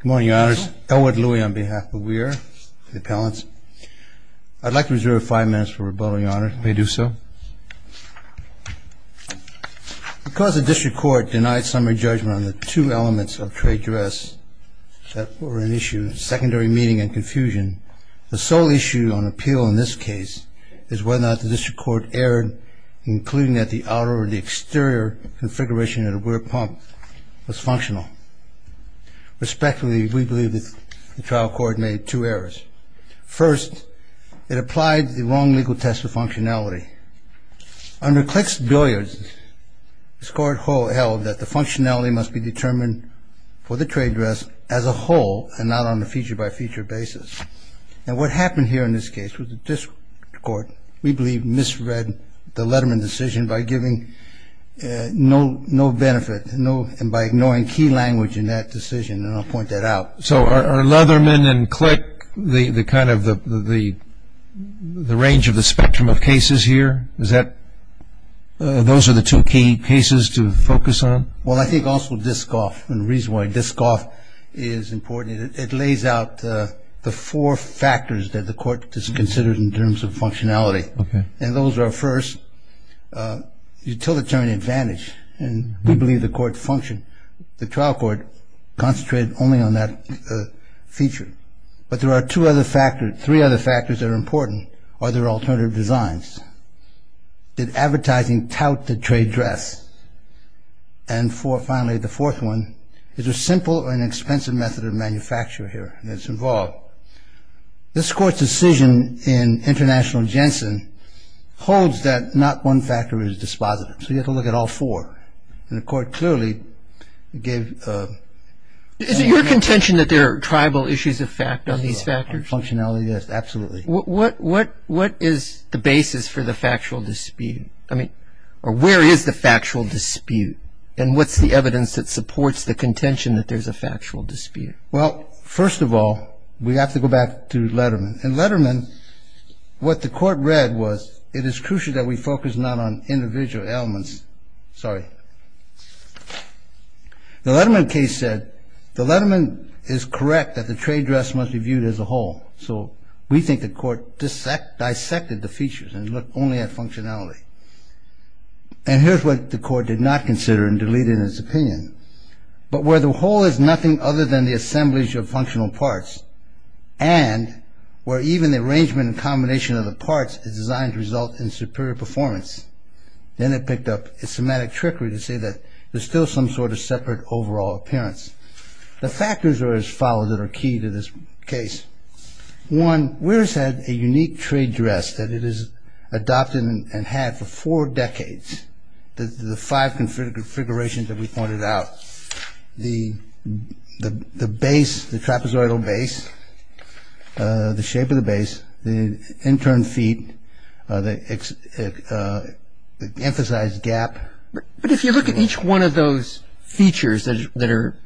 Good morning, your honors. Elwood Louie on behalf of Weir, the appellants. I'd like to reserve five minutes for rebuttal, your honor. May I do so? Because the district court denied summary judgment on the two elements of trade dress that were an issue, secondary meaning and confusion, the sole issue on appeal in this case is whether or not the district court erred, including that the outer or the exterior configuration of the Weir pump was functional. Respectfully, we believe that the trial court made two errors. First, it applied the wrong legal test of functionality. Under Klick's billiards, the district court held that the functionality must be determined for the trade dress as a whole and not on a feature-by-feature basis. Now, what happened here in this case was the district court, we believe, misread the Letterman decision by giving no benefit and by ignoring key language in that decision, and I'll point that out. So are Letterman and Klick the kind of the range of the spectrum of cases here? Is that those are the two key cases to focus on? Well, I think also DISCOF, and the reason why DISCOF is important, it lays out the four factors that the court considers in terms of functionality, and those are, first, utilitarian advantage, and we believe the court functioned. The trial court concentrated only on that feature. But there are two other factors, three other factors that are important, other alternative designs. Did advertising tout the trade dress? And finally, the fourth one, is there a simple or an expensive method of manufacture here that's involved? This court's decision in International Jensen holds that not one factor is dispositive, so you have to look at all four, and the court clearly gave... Is it your contention that there are tribal issues of fact on these factors? Functionality, yes, absolutely. What is the basis for the factual dispute? I mean, where is the factual dispute, and what's the evidence that supports the contention that there's a factual dispute? Well, first of all, we have to go back to Letterman. In Letterman, what the court read was, it is crucial that we focus not on individual elements. Sorry. The Letterman case said, the Letterman is correct that the trade dress must be viewed as a whole. So we think the court dissected the features and looked only at functionality. And here's what the court did not consider and deleted in its opinion. But where the whole is nothing other than the assemblage of functional parts, and where even the arrangement and combination of the parts is designed to result in superior performance, then it picked up its somatic trickery to say that there's still some sort of separate overall appearance. The factors are as follows that are key to this case. One, Weir has had a unique trade dress that it has adopted and had for four decades. The five configurations that we pointed out, the base, the trapezoidal base, the shape of the base, the intern feet, the emphasized gap. But if you look at each one of those features that are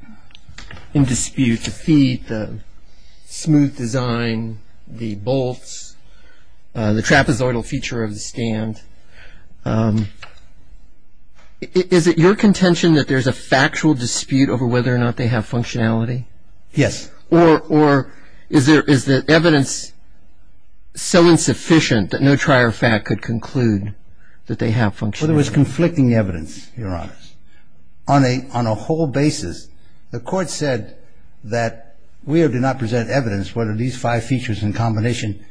in dispute, the feet, the smooth design, the bolts, the trapezoidal feature of the stand, is it your contention that there's a factual dispute over whether or not they have functionality? Yes. Or is the evidence so insufficient that no trier fact could conclude that they have functionality? Well, there was conflicting evidence, Your Honor, on a whole basis. The court said that Weir did not present evidence whether these five features in combination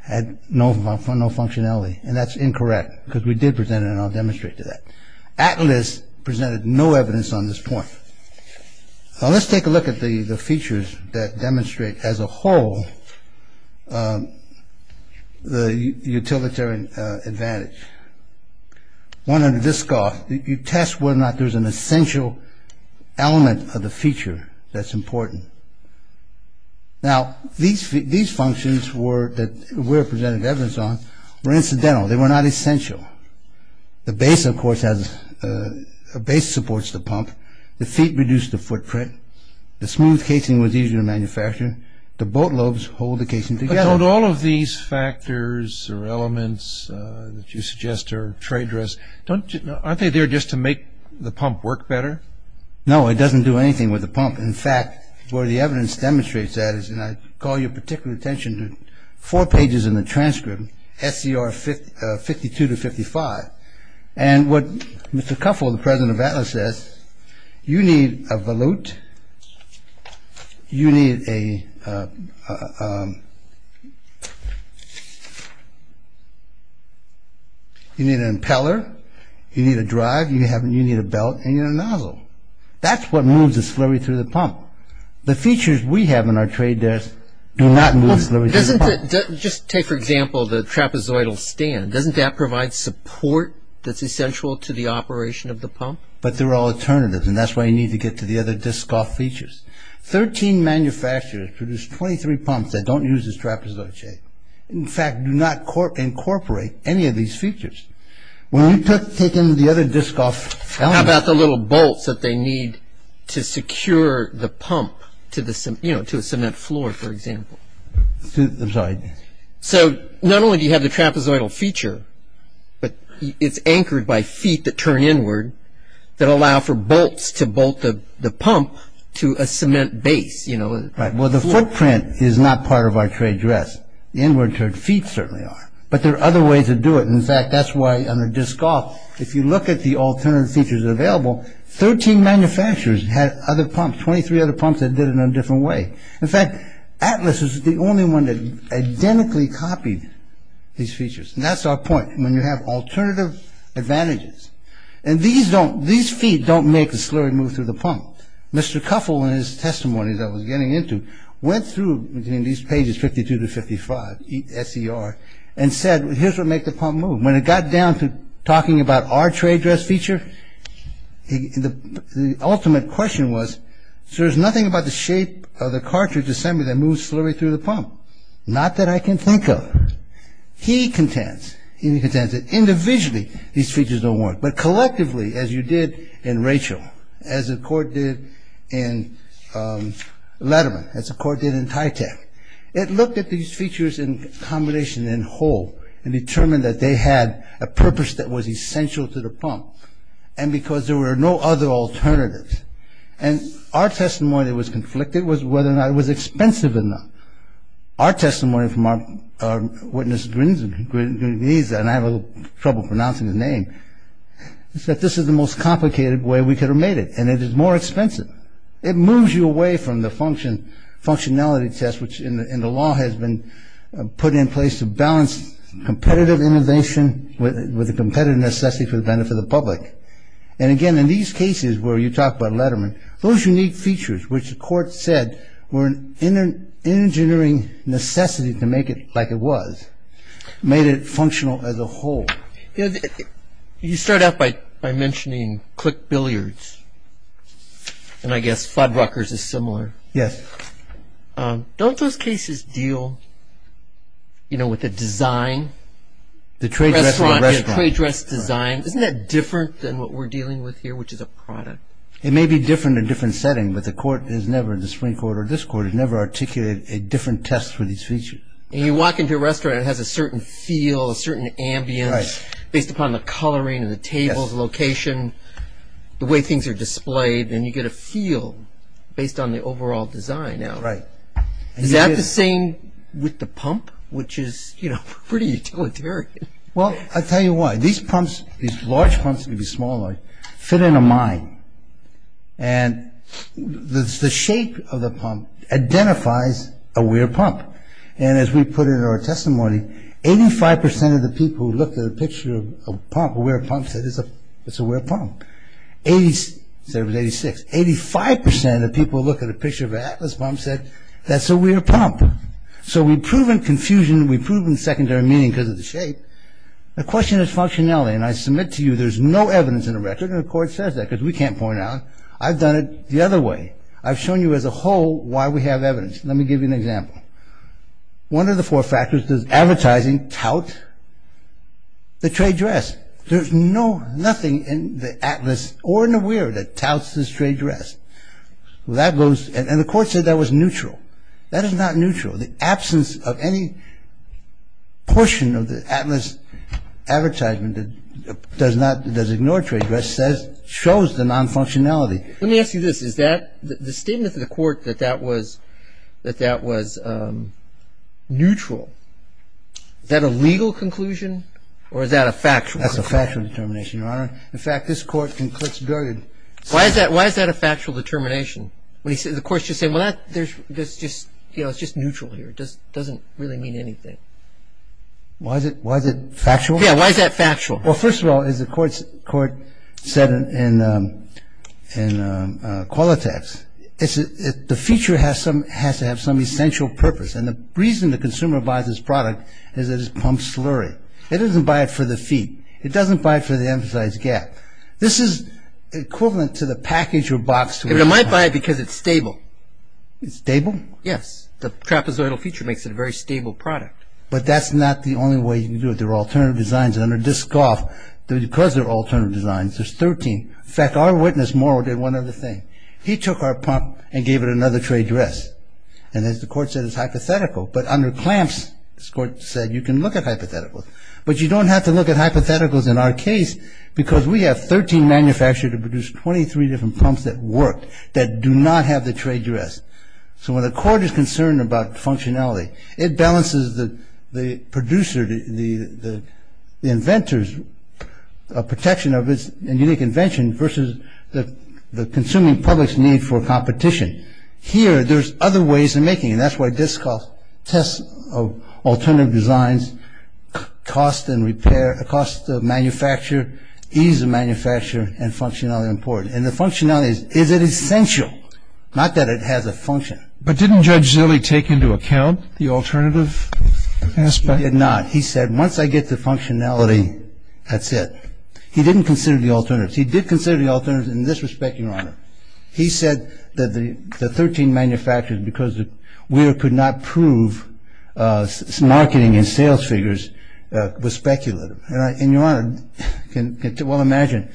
had no functionality, and that's incorrect because we did present it, and I'll demonstrate to that. Atlas presented no evidence on this point. Now, let's take a look at the features that demonstrate as a whole the utilitarian advantage. One under this scoff, you test whether or not there's an essential element of the feature that's important. Now, these functions that Weir presented evidence on were incidental. They were not essential. The base, of course, has a base that supports the pump. The feet reduce the footprint. The smooth casing was easier to manufacture. The bolt lobes hold the casing together. But don't all of these factors or elements that you suggest are trade risks, aren't they there just to make the pump work better? No, it doesn't do anything with the pump. In fact, where the evidence demonstrates that is, and I call your particular attention to four pages in the transcript, SCR 52 to 55. And what Mr. Cuffell, the president of Atlas, says, you need a volute, you need an impeller, you need a drive, you need a belt, and you need a nozzle. That's what moves the slurry through the pump. The features we have in our trade desk do not move slurry through the pump. Just take, for example, the trapezoidal stand. Doesn't that provide support that's essential to the operation of the pump? But they're all alternatives, and that's why you need to get to the other disc-off features. Thirteen manufacturers produce 23 pumps that don't use this trapezoid shape. In fact, do not incorporate any of these features. When you take in the other disc-off elements... you know, to a cement floor, for example. I'm sorry. So not only do you have the trapezoidal feature, but it's anchored by feet that turn inward that allow for bolts to bolt the pump to a cement base, you know. Right. Well, the footprint is not part of our trade desk. The inward-turned feet certainly are. But there are other ways to do it. In fact, that's why under disc-off, if you look at the alternative features available, 13 manufacturers had other pumps, 23 other pumps that did it in a different way. In fact, Atlas is the only one that identically copied these features. And that's our point, when you have alternative advantages. And these feet don't make the slurry move through the pump. Mr. Cuffell, in his testimony that I was getting into, went through between these pages, 52 to 55, S.E.R., and said, here's what makes the pump move. When it got down to talking about our trade dress feature, the ultimate question was, there's nothing about the shape of the cartridge assembly that moves slurry through the pump. Not that I can think of. He contends, he contends that individually these features don't work. But collectively, as you did in Rachel, as the court did in Letterman, as the court did in TYTAC, it looked at these features in combination, in whole, and determined that they had a purpose that was essential to the pump. And because there were no other alternatives. And our testimony that was conflicted was whether or not it was expensive enough. Our testimony from our witness, Grenisa, and I have a little trouble pronouncing his name, is that this is the most complicated way we could have made it. And it is more expensive. It moves you away from the functionality test, which in the law has been put in place to balance competitive innovation with the competitive necessity for the benefit of the public. And again, in these cases where you talk about Letterman, those unique features which the court said were an engineering necessity to make it like it was, made it functional as a whole. You start out by mentioning Click Billiards. And I guess Fuddruckers is similar. Yes. Don't those cases deal, you know, with a design? The trade dress and the restaurant. Yeah, trade dress design. Isn't that different than what we're dealing with here, which is a product? It may be different in a different setting, but the court has never, the Supreme Court or this court has never articulated a different test for these features. And you walk into a restaurant and it has a certain feel, a certain ambience, based upon the coloring of the tables, location, the way things are displayed, and you get a feel based on the overall design. Right. Is that the same with the pump, which is, you know, pretty utilitarian? Well, I'll tell you why. These pumps, these large pumps, maybe smaller, fit in a mine. And the shape of the pump identifies a weird pump. And as we put it in our testimony, 85% of the people who looked at a picture of a pump, a weird pump, said it's a weird pump. Eighty-six, 85% of the people who looked at a picture of an Atlas pump said that's a weird pump. So we've proven confusion, we've proven secondary meaning because of the shape. The question is functionality, and I submit to you there's no evidence in the record, and the court says that because we can't point out. I've done it the other way. I've shown you as a whole why we have evidence. Let me give you an example. One of the four factors does advertising tout the trade dress. There's no, nothing in the Atlas or in the weir that touts this trade dress. Well, that goes, and the court said that was neutral. That is not neutral. The absence of any portion of the Atlas advertisement that does not, does ignore trade dress shows the non-functionality. Let me ask you this. Is that, the statement of the court that that was neutral, is that a legal conclusion or is that a factual conclusion? That's a factual determination, Your Honor. In fact, this court concludes. Why is that a factual determination? The court's just saying, well, it's just neutral here. It doesn't really mean anything. Why is it factual? Yeah, why is that factual? Well, first of all, as the court said in Qualitas, the feature has to have some essential purpose, and the reason the consumer buys this product is that it's pump slurry. It doesn't buy it for the feet. It doesn't buy it for the emphasize gap. This is equivalent to the package or box. It might buy it because it's stable. It's stable? Yes. The trapezoidal feature makes it a very stable product. But that's not the only way you can do it. Under Disc Golf, because there are alternative designs, there's 13. In fact, our witness, Morrow, did one other thing. He took our pump and gave it another trade dress. And as the court said, it's hypothetical. But under Clamps, this court said you can look at hypotheticals. But you don't have to look at hypotheticals in our case because we have 13 manufacturers that produce 23 different pumps that work that do not have the trade dress. So when the court is concerned about functionality, it balances the producer, the inventor's protection of its unique invention versus the consuming public's need for competition. Here, there's other ways of making it, and that's why Disc Golf tests alternative designs, cost of manufacture, ease of manufacture, and functionality are important. And the functionality, is it essential? Not that it has a function. But didn't Judge Zille take into account the alternative aspect? He did not. He said, once I get the functionality, that's it. He didn't consider the alternatives. He did consider the alternatives in this respect, Your Honor. He said that the 13 manufacturers, because we could not prove marketing and sales figures, was speculative. And Your Honor can well imagine,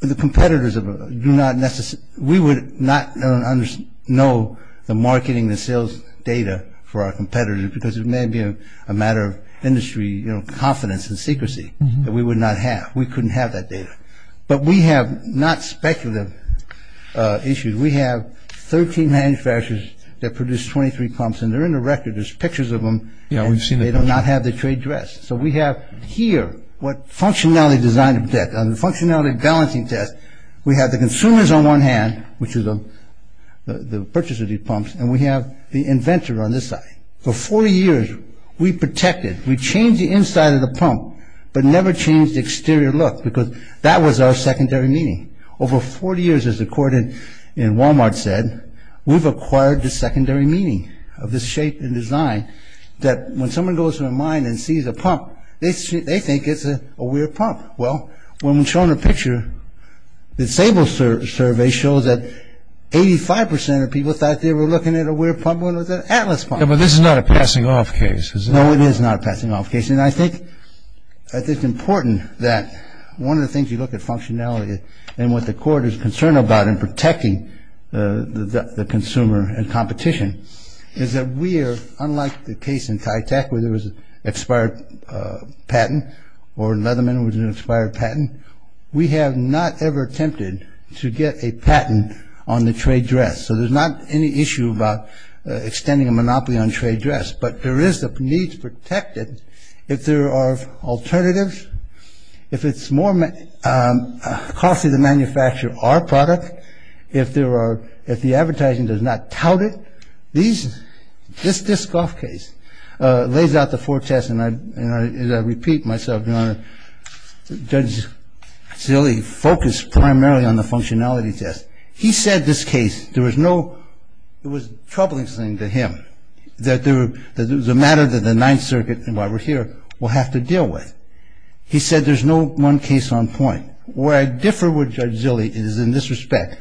the competitors do not necessarily We would not know the marketing and sales data for our competitors because it may be a matter of industry confidence and secrecy that we would not have. We couldn't have that data. But we have not speculative issues. We have 13 manufacturers that produce 23 pumps, and they're in the record. There's pictures of them, and they do not have the trade dress. So we have here what functionality design detects. On the functionality balancing test, we have the consumers on one hand, which is the purchase of these pumps, and we have the inventor on this side. For 40 years, we protected, we changed the inside of the pump, but never changed the exterior look because that was our secondary meaning. Over 40 years, as the court in Wal-Mart said, we've acquired the secondary meaning of this shape and design that when someone goes to a mine and sees a pump, they think it's a weird pump. Well, when we're shown a picture, the Sable survey shows that 85% of people thought they were looking at a weird pump when it was an Atlas pump. But this is not a passing-off case, is it? No, it is not a passing-off case. And I think it's important that one of the things you look at functionality and what the court is concerned about in protecting the consumer and competition is that we are, unlike the case in TYTAC where there was an expired patent or Leatherman was an expired patent, we have not ever attempted to get a patent on the trade dress. So there's not any issue about extending a monopoly on trade dress, but there is a need to protect it if there are alternatives, if it's more costly to manufacture our product, if the advertising does not tout it. This Dyskoff case lays out the four tests, and I repeat myself, Your Honor, Judge Zille focused primarily on the functionality test. He said this case, it was a troubling thing to him, that it was a matter that the Ninth Circuit and why we're here will have to deal with. He said there's no one case on point. Where I differ with Judge Zille is in this respect.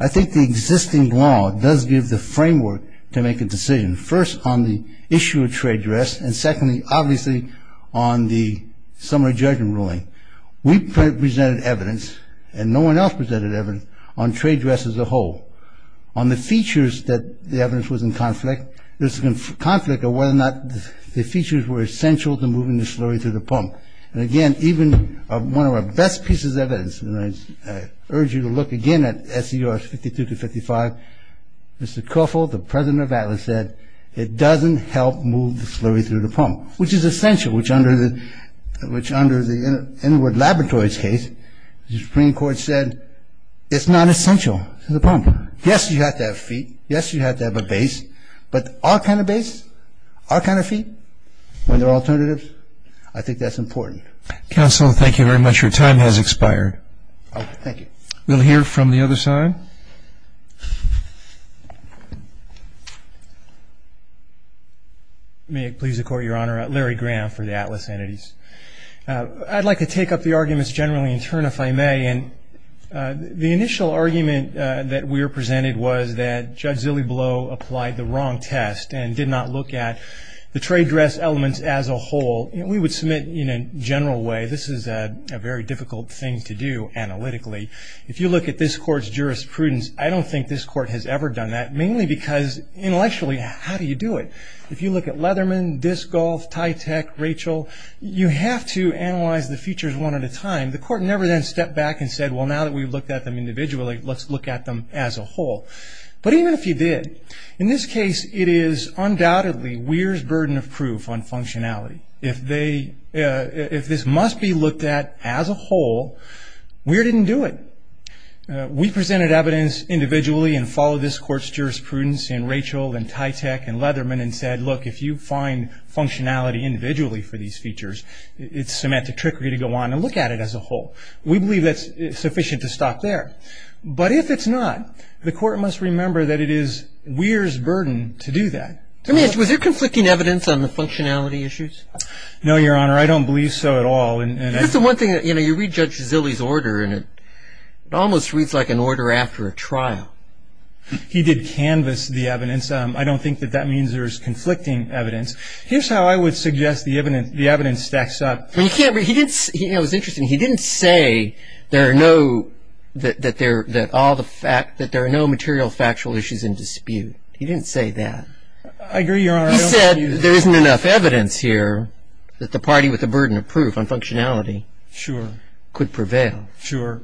I think the existing law does give the framework to make a decision, first on the issue of trade dress, and secondly, obviously, on the summary judgment ruling. We presented evidence, and no one else presented evidence, on trade dress as a whole. On the features that the evidence was in conflict, there's a conflict of whether or not the features were essential to moving the slurry through the pump. I urge you to look again at S.E.R. 52-55. Mr. Koeffel, the president of Atlas, said it doesn't help move the slurry through the pump, which is essential, which under the Inward Laboratories case, the Supreme Court said it's not essential to the pump. Yes, you have to have feet. Yes, you have to have a base. But our kind of base, our kind of feet, when there are alternatives, I think that's important. Counsel, thank you very much. Your time has expired. Oh, thank you. We'll hear from the other side. May it please the Court, Your Honor. Larry Graham for the Atlas Entities. I'd like to take up the arguments generally in turn, if I may. And the initial argument that we were presented was that Judge Zillebloh applied the wrong test and did not look at the trade dress elements as a whole. We would submit in a general way, this is a very difficult thing to do analytically. If you look at this Court's jurisprudence, I don't think this Court has ever done that, mainly because intellectually, how do you do it? If you look at Leatherman, Disc Golf, Tytech, Rachel, you have to analyze the features one at a time. The Court never then stepped back and said, well, now that we've looked at them individually, let's look at them as a whole. But even if you did, in this case, it is undoubtedly Weir's burden of proof on functionality. If this must be looked at as a whole, Weir didn't do it. We presented evidence individually and followed this Court's jurisprudence in Rachel and Tytech and Leatherman and said, look, if you find functionality individually for these features, it's semantic trickery to go on and look at it as a whole. We believe that's sufficient to stop there. But if it's not, the Court must remember that it is Weir's burden to do that. I mean, was there conflicting evidence on the functionality issues? No, Your Honor, I don't believe so at all. That's the one thing that, you know, you read Judge Zillie's order and it almost reads like an order after a trial. He did canvas the evidence. I don't think that that means there's conflicting evidence. Here's how I would suggest the evidence stacks up. He didn't say that there are no material factual issues in dispute. He didn't say that. I agree, Your Honor. He said there isn't enough evidence here that the party with the burden of proof on functionality could prevail. Sure.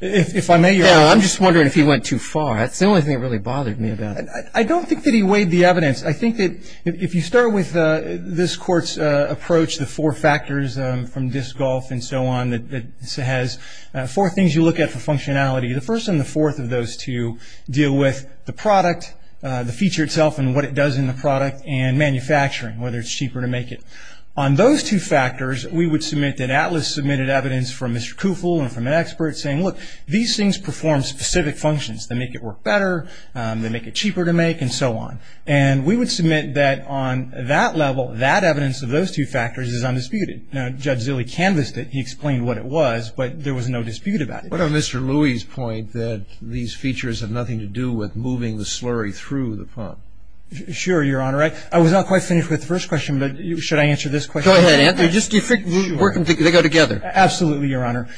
If I may, Your Honor. Yeah, I'm just wondering if he went too far. That's the only thing that really bothered me about it. I don't think that he weighed the evidence. I think that if you start with this Court's approach, the four factors from Dysgolf and so on, that has four things you look at for functionality, the first and the fourth of those two deal with the product, the feature itself, and what it does in the product and manufacturing, whether it's cheaper to make it. On those two factors, we would submit that Atlas submitted evidence from Mr. Koufoul and from an expert saying, look, these things perform specific functions. They make it work better. They make it cheaper to make and so on. And we would submit that on that level, that evidence of those two factors is undisputed. Now, Judge Zillie canvassed it. He explained what it was, but there was no dispute about it. What about Mr. Louie's point that these features have nothing to do with moving the slurry through the pump? Sure, Your Honor. I was not quite finished with the first question, but should I answer this question? Go ahead, Ant. Just work them together. They go together. Absolutely, Your Honor.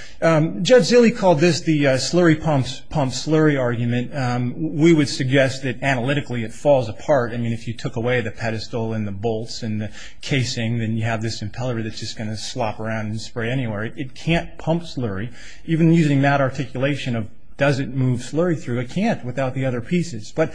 Judge Zillie called this the slurry pump's pump slurry argument. We would suggest that analytically it falls apart. I mean, if you took away the pedestal and the bolts and the casing, then you have this impeller that's just going to slop around and spray anywhere. It can't pump slurry. Even using that articulation of does it move slurry through, it can't without the other pieces. But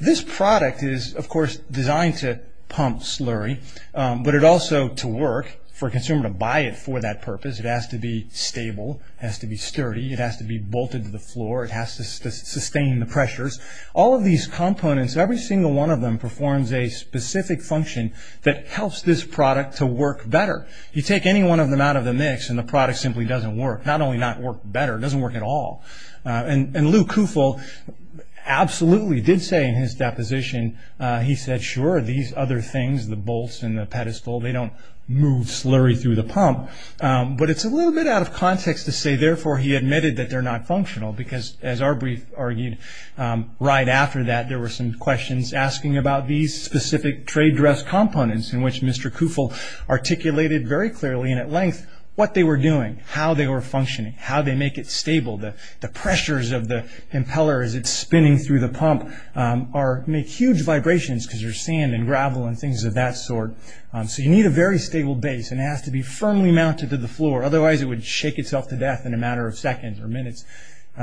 this product is, of course, designed to pump slurry, but it also to work for a consumer to buy it for that purpose. It has to be stable. It has to be sturdy. It has to be bolted to the floor. It has to sustain the pressures. All of these components, every single one of them, performs a specific function that helps this product to work better. You take any one of them out of the mix and the product simply doesn't work, not only not work better, it doesn't work at all. And Lou Kufel absolutely did say in his deposition, he said, sure, these other things, the bolts and the pedestal, they don't move slurry through the pump. But it's a little bit out of context to say, therefore, he admitted that they're not functional, because as Arbery argued, right after that, there were some questions asking about these specific trade dress components in which Mr. Kufel articulated very clearly and at length what they were doing, how they were functioning, how they make it stable, the pressures of the impeller as it's spinning through the pump make huge vibrations, because there's sand and gravel and things of that sort. So you need a very stable base, and it has to be firmly mounted to the floor. Otherwise, it would shake itself to death in a matter of seconds or minutes.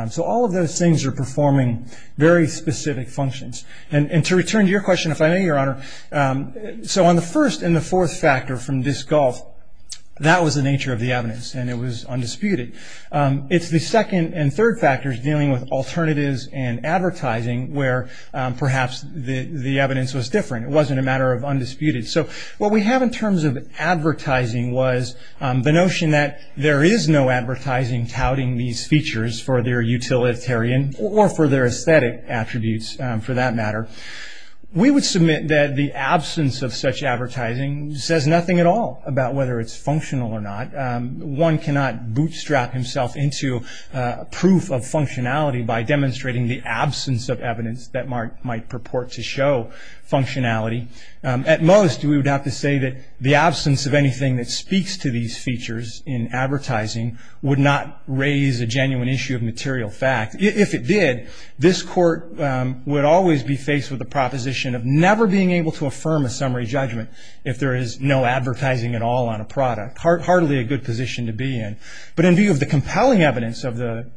So all of those things are performing very specific functions. And to return to your question, if I may, Your Honor, so on the first and the fourth factor from this gulf, that was the nature of the evidence, and it was undisputed. It's the second and third factors dealing with alternatives and advertising where perhaps the evidence was different. It wasn't a matter of undisputed. So what we have in terms of advertising was the notion that there is no advertising touting these features for their utilitarian or for their aesthetic attributes for that matter. We would submit that the absence of such advertising says nothing at all about whether it's functional or not. One cannot bootstrap himself into proof of functionality by demonstrating the absence of evidence that might purport to show functionality. At most, we would have to say that the absence of anything that speaks to these features in advertising would not raise a genuine issue of material fact. If it did, this Court would always be faced with the proposition of never being able to affirm a summary judgment if there is no advertising at all on a product, hardly a good position to be in. But in view of the compelling evidence of the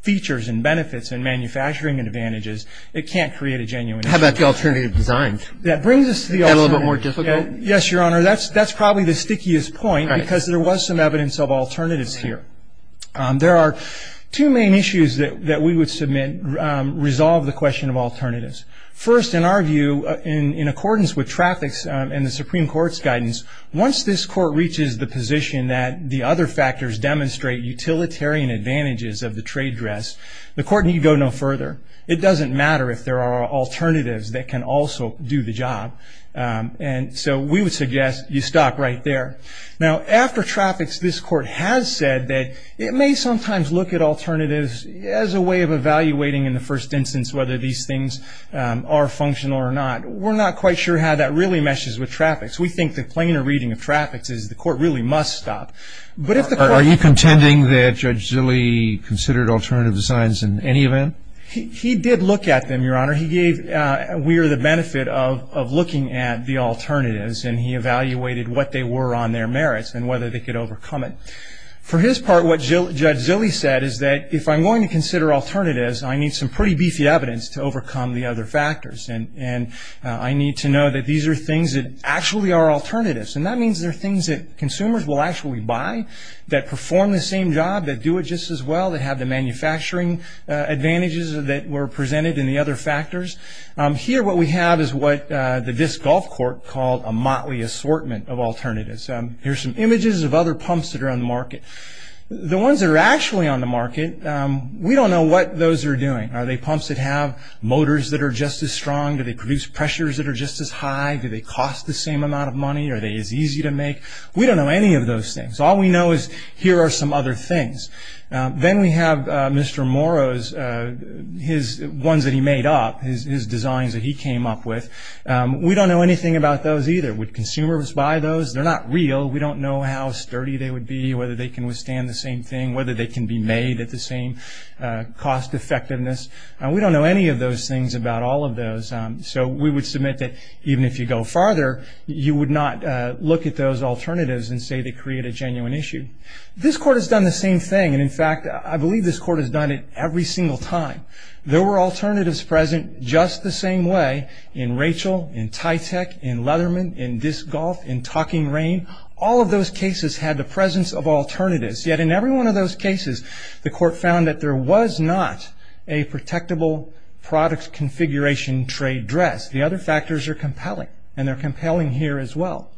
features and benefits and manufacturing advantages, it can't create a genuine issue. How about the alternative designs? That brings us to the alternative. Is that a little bit more difficult? Yes, Your Honor. That's probably the stickiest point because there was some evidence of alternatives here. There are two main issues that we would submit resolve the question of alternatives. First, in our view, in accordance with traffics and the Supreme Court's guidance, once this Court reaches the position that the other factors demonstrate utilitarian advantages of the trade dress, the Court need go no further. It doesn't matter if there are alternatives that can also do the job. And so we would suggest you stop right there. Now, after traffics, this Court has said that it may sometimes look at alternatives as a way of evaluating, in the first instance, whether these things are functional or not. We're not quite sure how that really meshes with traffics. We think the plainer reading of traffics is the Court really must stop. Are you contending that Judge Zille considered alternative designs in any event? He did look at them, Your Honor. He gave we're the benefit of looking at the alternatives, and he evaluated what they were on their merits and whether they could overcome it. For his part, what Judge Zille said is that if I'm going to consider alternatives, I need some pretty beefy evidence to overcome the other factors, and I need to know that these are things that actually are alternatives. And that means they're things that consumers will actually buy, that perform the same job, that do it just as well, that have the manufacturing advantages that were presented in the other factors. Here what we have is what this Gulf Court called a motley assortment of alternatives. Here are some images of other pumps that are on the market. The ones that are actually on the market, we don't know what those are doing. Are they pumps that have motors that are just as strong? Do they produce pressures that are just as high? Do they cost the same amount of money? Are they as easy to make? We don't know any of those things. All we know is here are some other things. Then we have Mr. Morrow's, his ones that he made up, his designs that he came up with. We don't know anything about those either. Would consumers buy those? They're not real. We don't know how sturdy they would be, whether they can withstand the same thing, whether they can be made at the same cost effectiveness. We don't know any of those things about all of those. So we would submit that even if you go farther, you would not look at those alternatives and say they create a genuine issue. This court has done the same thing. In fact, I believe this court has done it every single time. There were alternatives present just the same way in Rachel, in Tytech, in Leatherman, in Disc Golf, in Talking Rain. All of those cases had the presence of alternatives. Yet in every one of those cases, the court found that there was not a protectable product configuration trade dress. The other factors are compelling, and they're compelling here as well.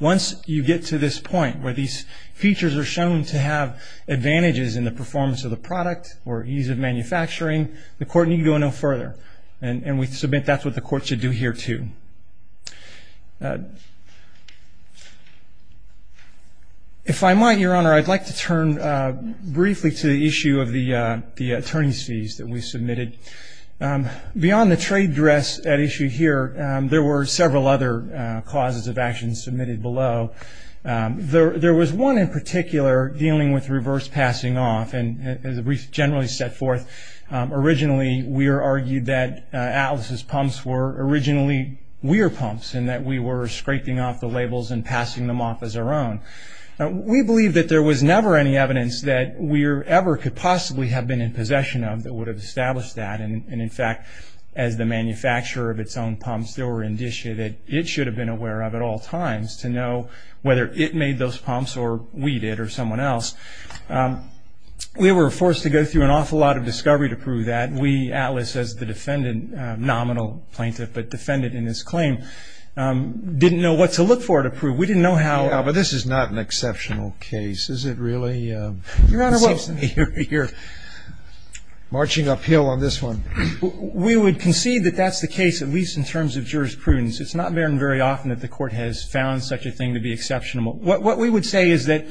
Once you get to this point where these features are shown to have advantages in the performance of the product or ease of manufacturing, the court need to go no further. And we submit that's what the court should do here too. If I might, Your Honor, I'd like to turn briefly to the issue of the attorney's fees that we submitted. Beyond the trade dress at issue here, there were several other causes of action submitted below. There was one in particular dealing with reverse passing off, and as we generally set forth, originally we argued that Atlas's pumps were originally Weir pumps and that we were scraping off the labels and passing them off as our own. We believe that there was never any evidence that Weir ever could possibly have been in possession of that would have established that. And in fact, as the manufacturer of its own pumps, there were indicia that it should have been aware of at all times to know whether it made those pumps or we did or someone else. We were forced to go through an awful lot of discovery to prove that. We, Atlas, as the defendant, nominal plaintiff, but defendant in this claim, didn't know what to look for to prove. We didn't know how. Yeah, but this is not an exceptional case, is it really? Your Honor, well. You're marching uphill on this one. We would concede that that's the case, at least in terms of jurisprudence. It's not very often that the court has found such a thing to be exceptional. What we would say is that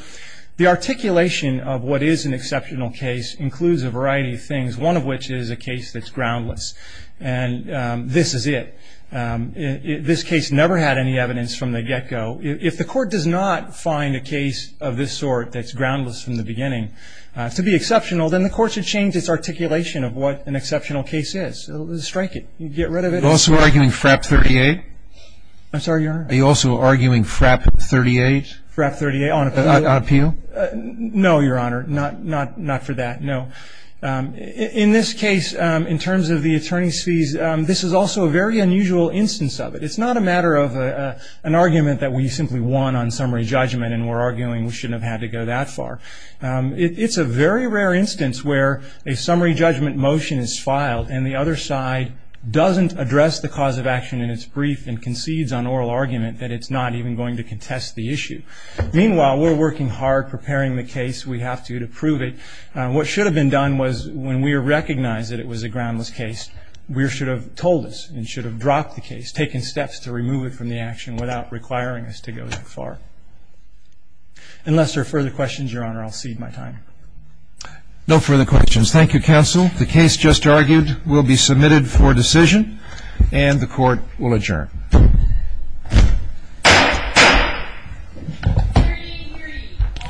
the articulation of what is an exceptional case includes a variety of things, one of which is a case that's groundless, and this is it. This case never had any evidence from the get-go. If the court does not find a case of this sort that's groundless from the beginning to be exceptional, then the court should change its articulation of what an exceptional case is. Strike it. Get rid of it. Are you also arguing FRAP 38? I'm sorry, Your Honor? Are you also arguing FRAP 38? FRAP 38 on appeal? No, Your Honor, not for that, no. In this case, in terms of the attorney's fees, this is also a very unusual instance of it. It's not a matter of an argument that we simply won on summary judgment and we're arguing we shouldn't have had to go that far. It's a very rare instance where a summary judgment motion is filed and the other side doesn't address the cause of action in its brief and concedes on oral argument that it's not even going to contest the issue. Meanwhile, we're working hard preparing the case. We have to to prove it. What should have been done was when we recognized that it was a groundless case, we should have told us and should have dropped the case, taken steps to remove it from the action without requiring us to go that far. Unless there are further questions, Your Honor, I'll cede my time. No further questions. Thank you, counsel. The case just argued will be submitted for decision, and the court will adjourn. Hear ye, hear ye. All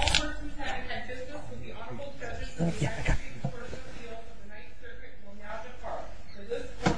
persons having had business with the Honorable Judges of the Attorney's Court of Appeals of the Ninth Circuit will now depart. For this court, this session now stands adjourned.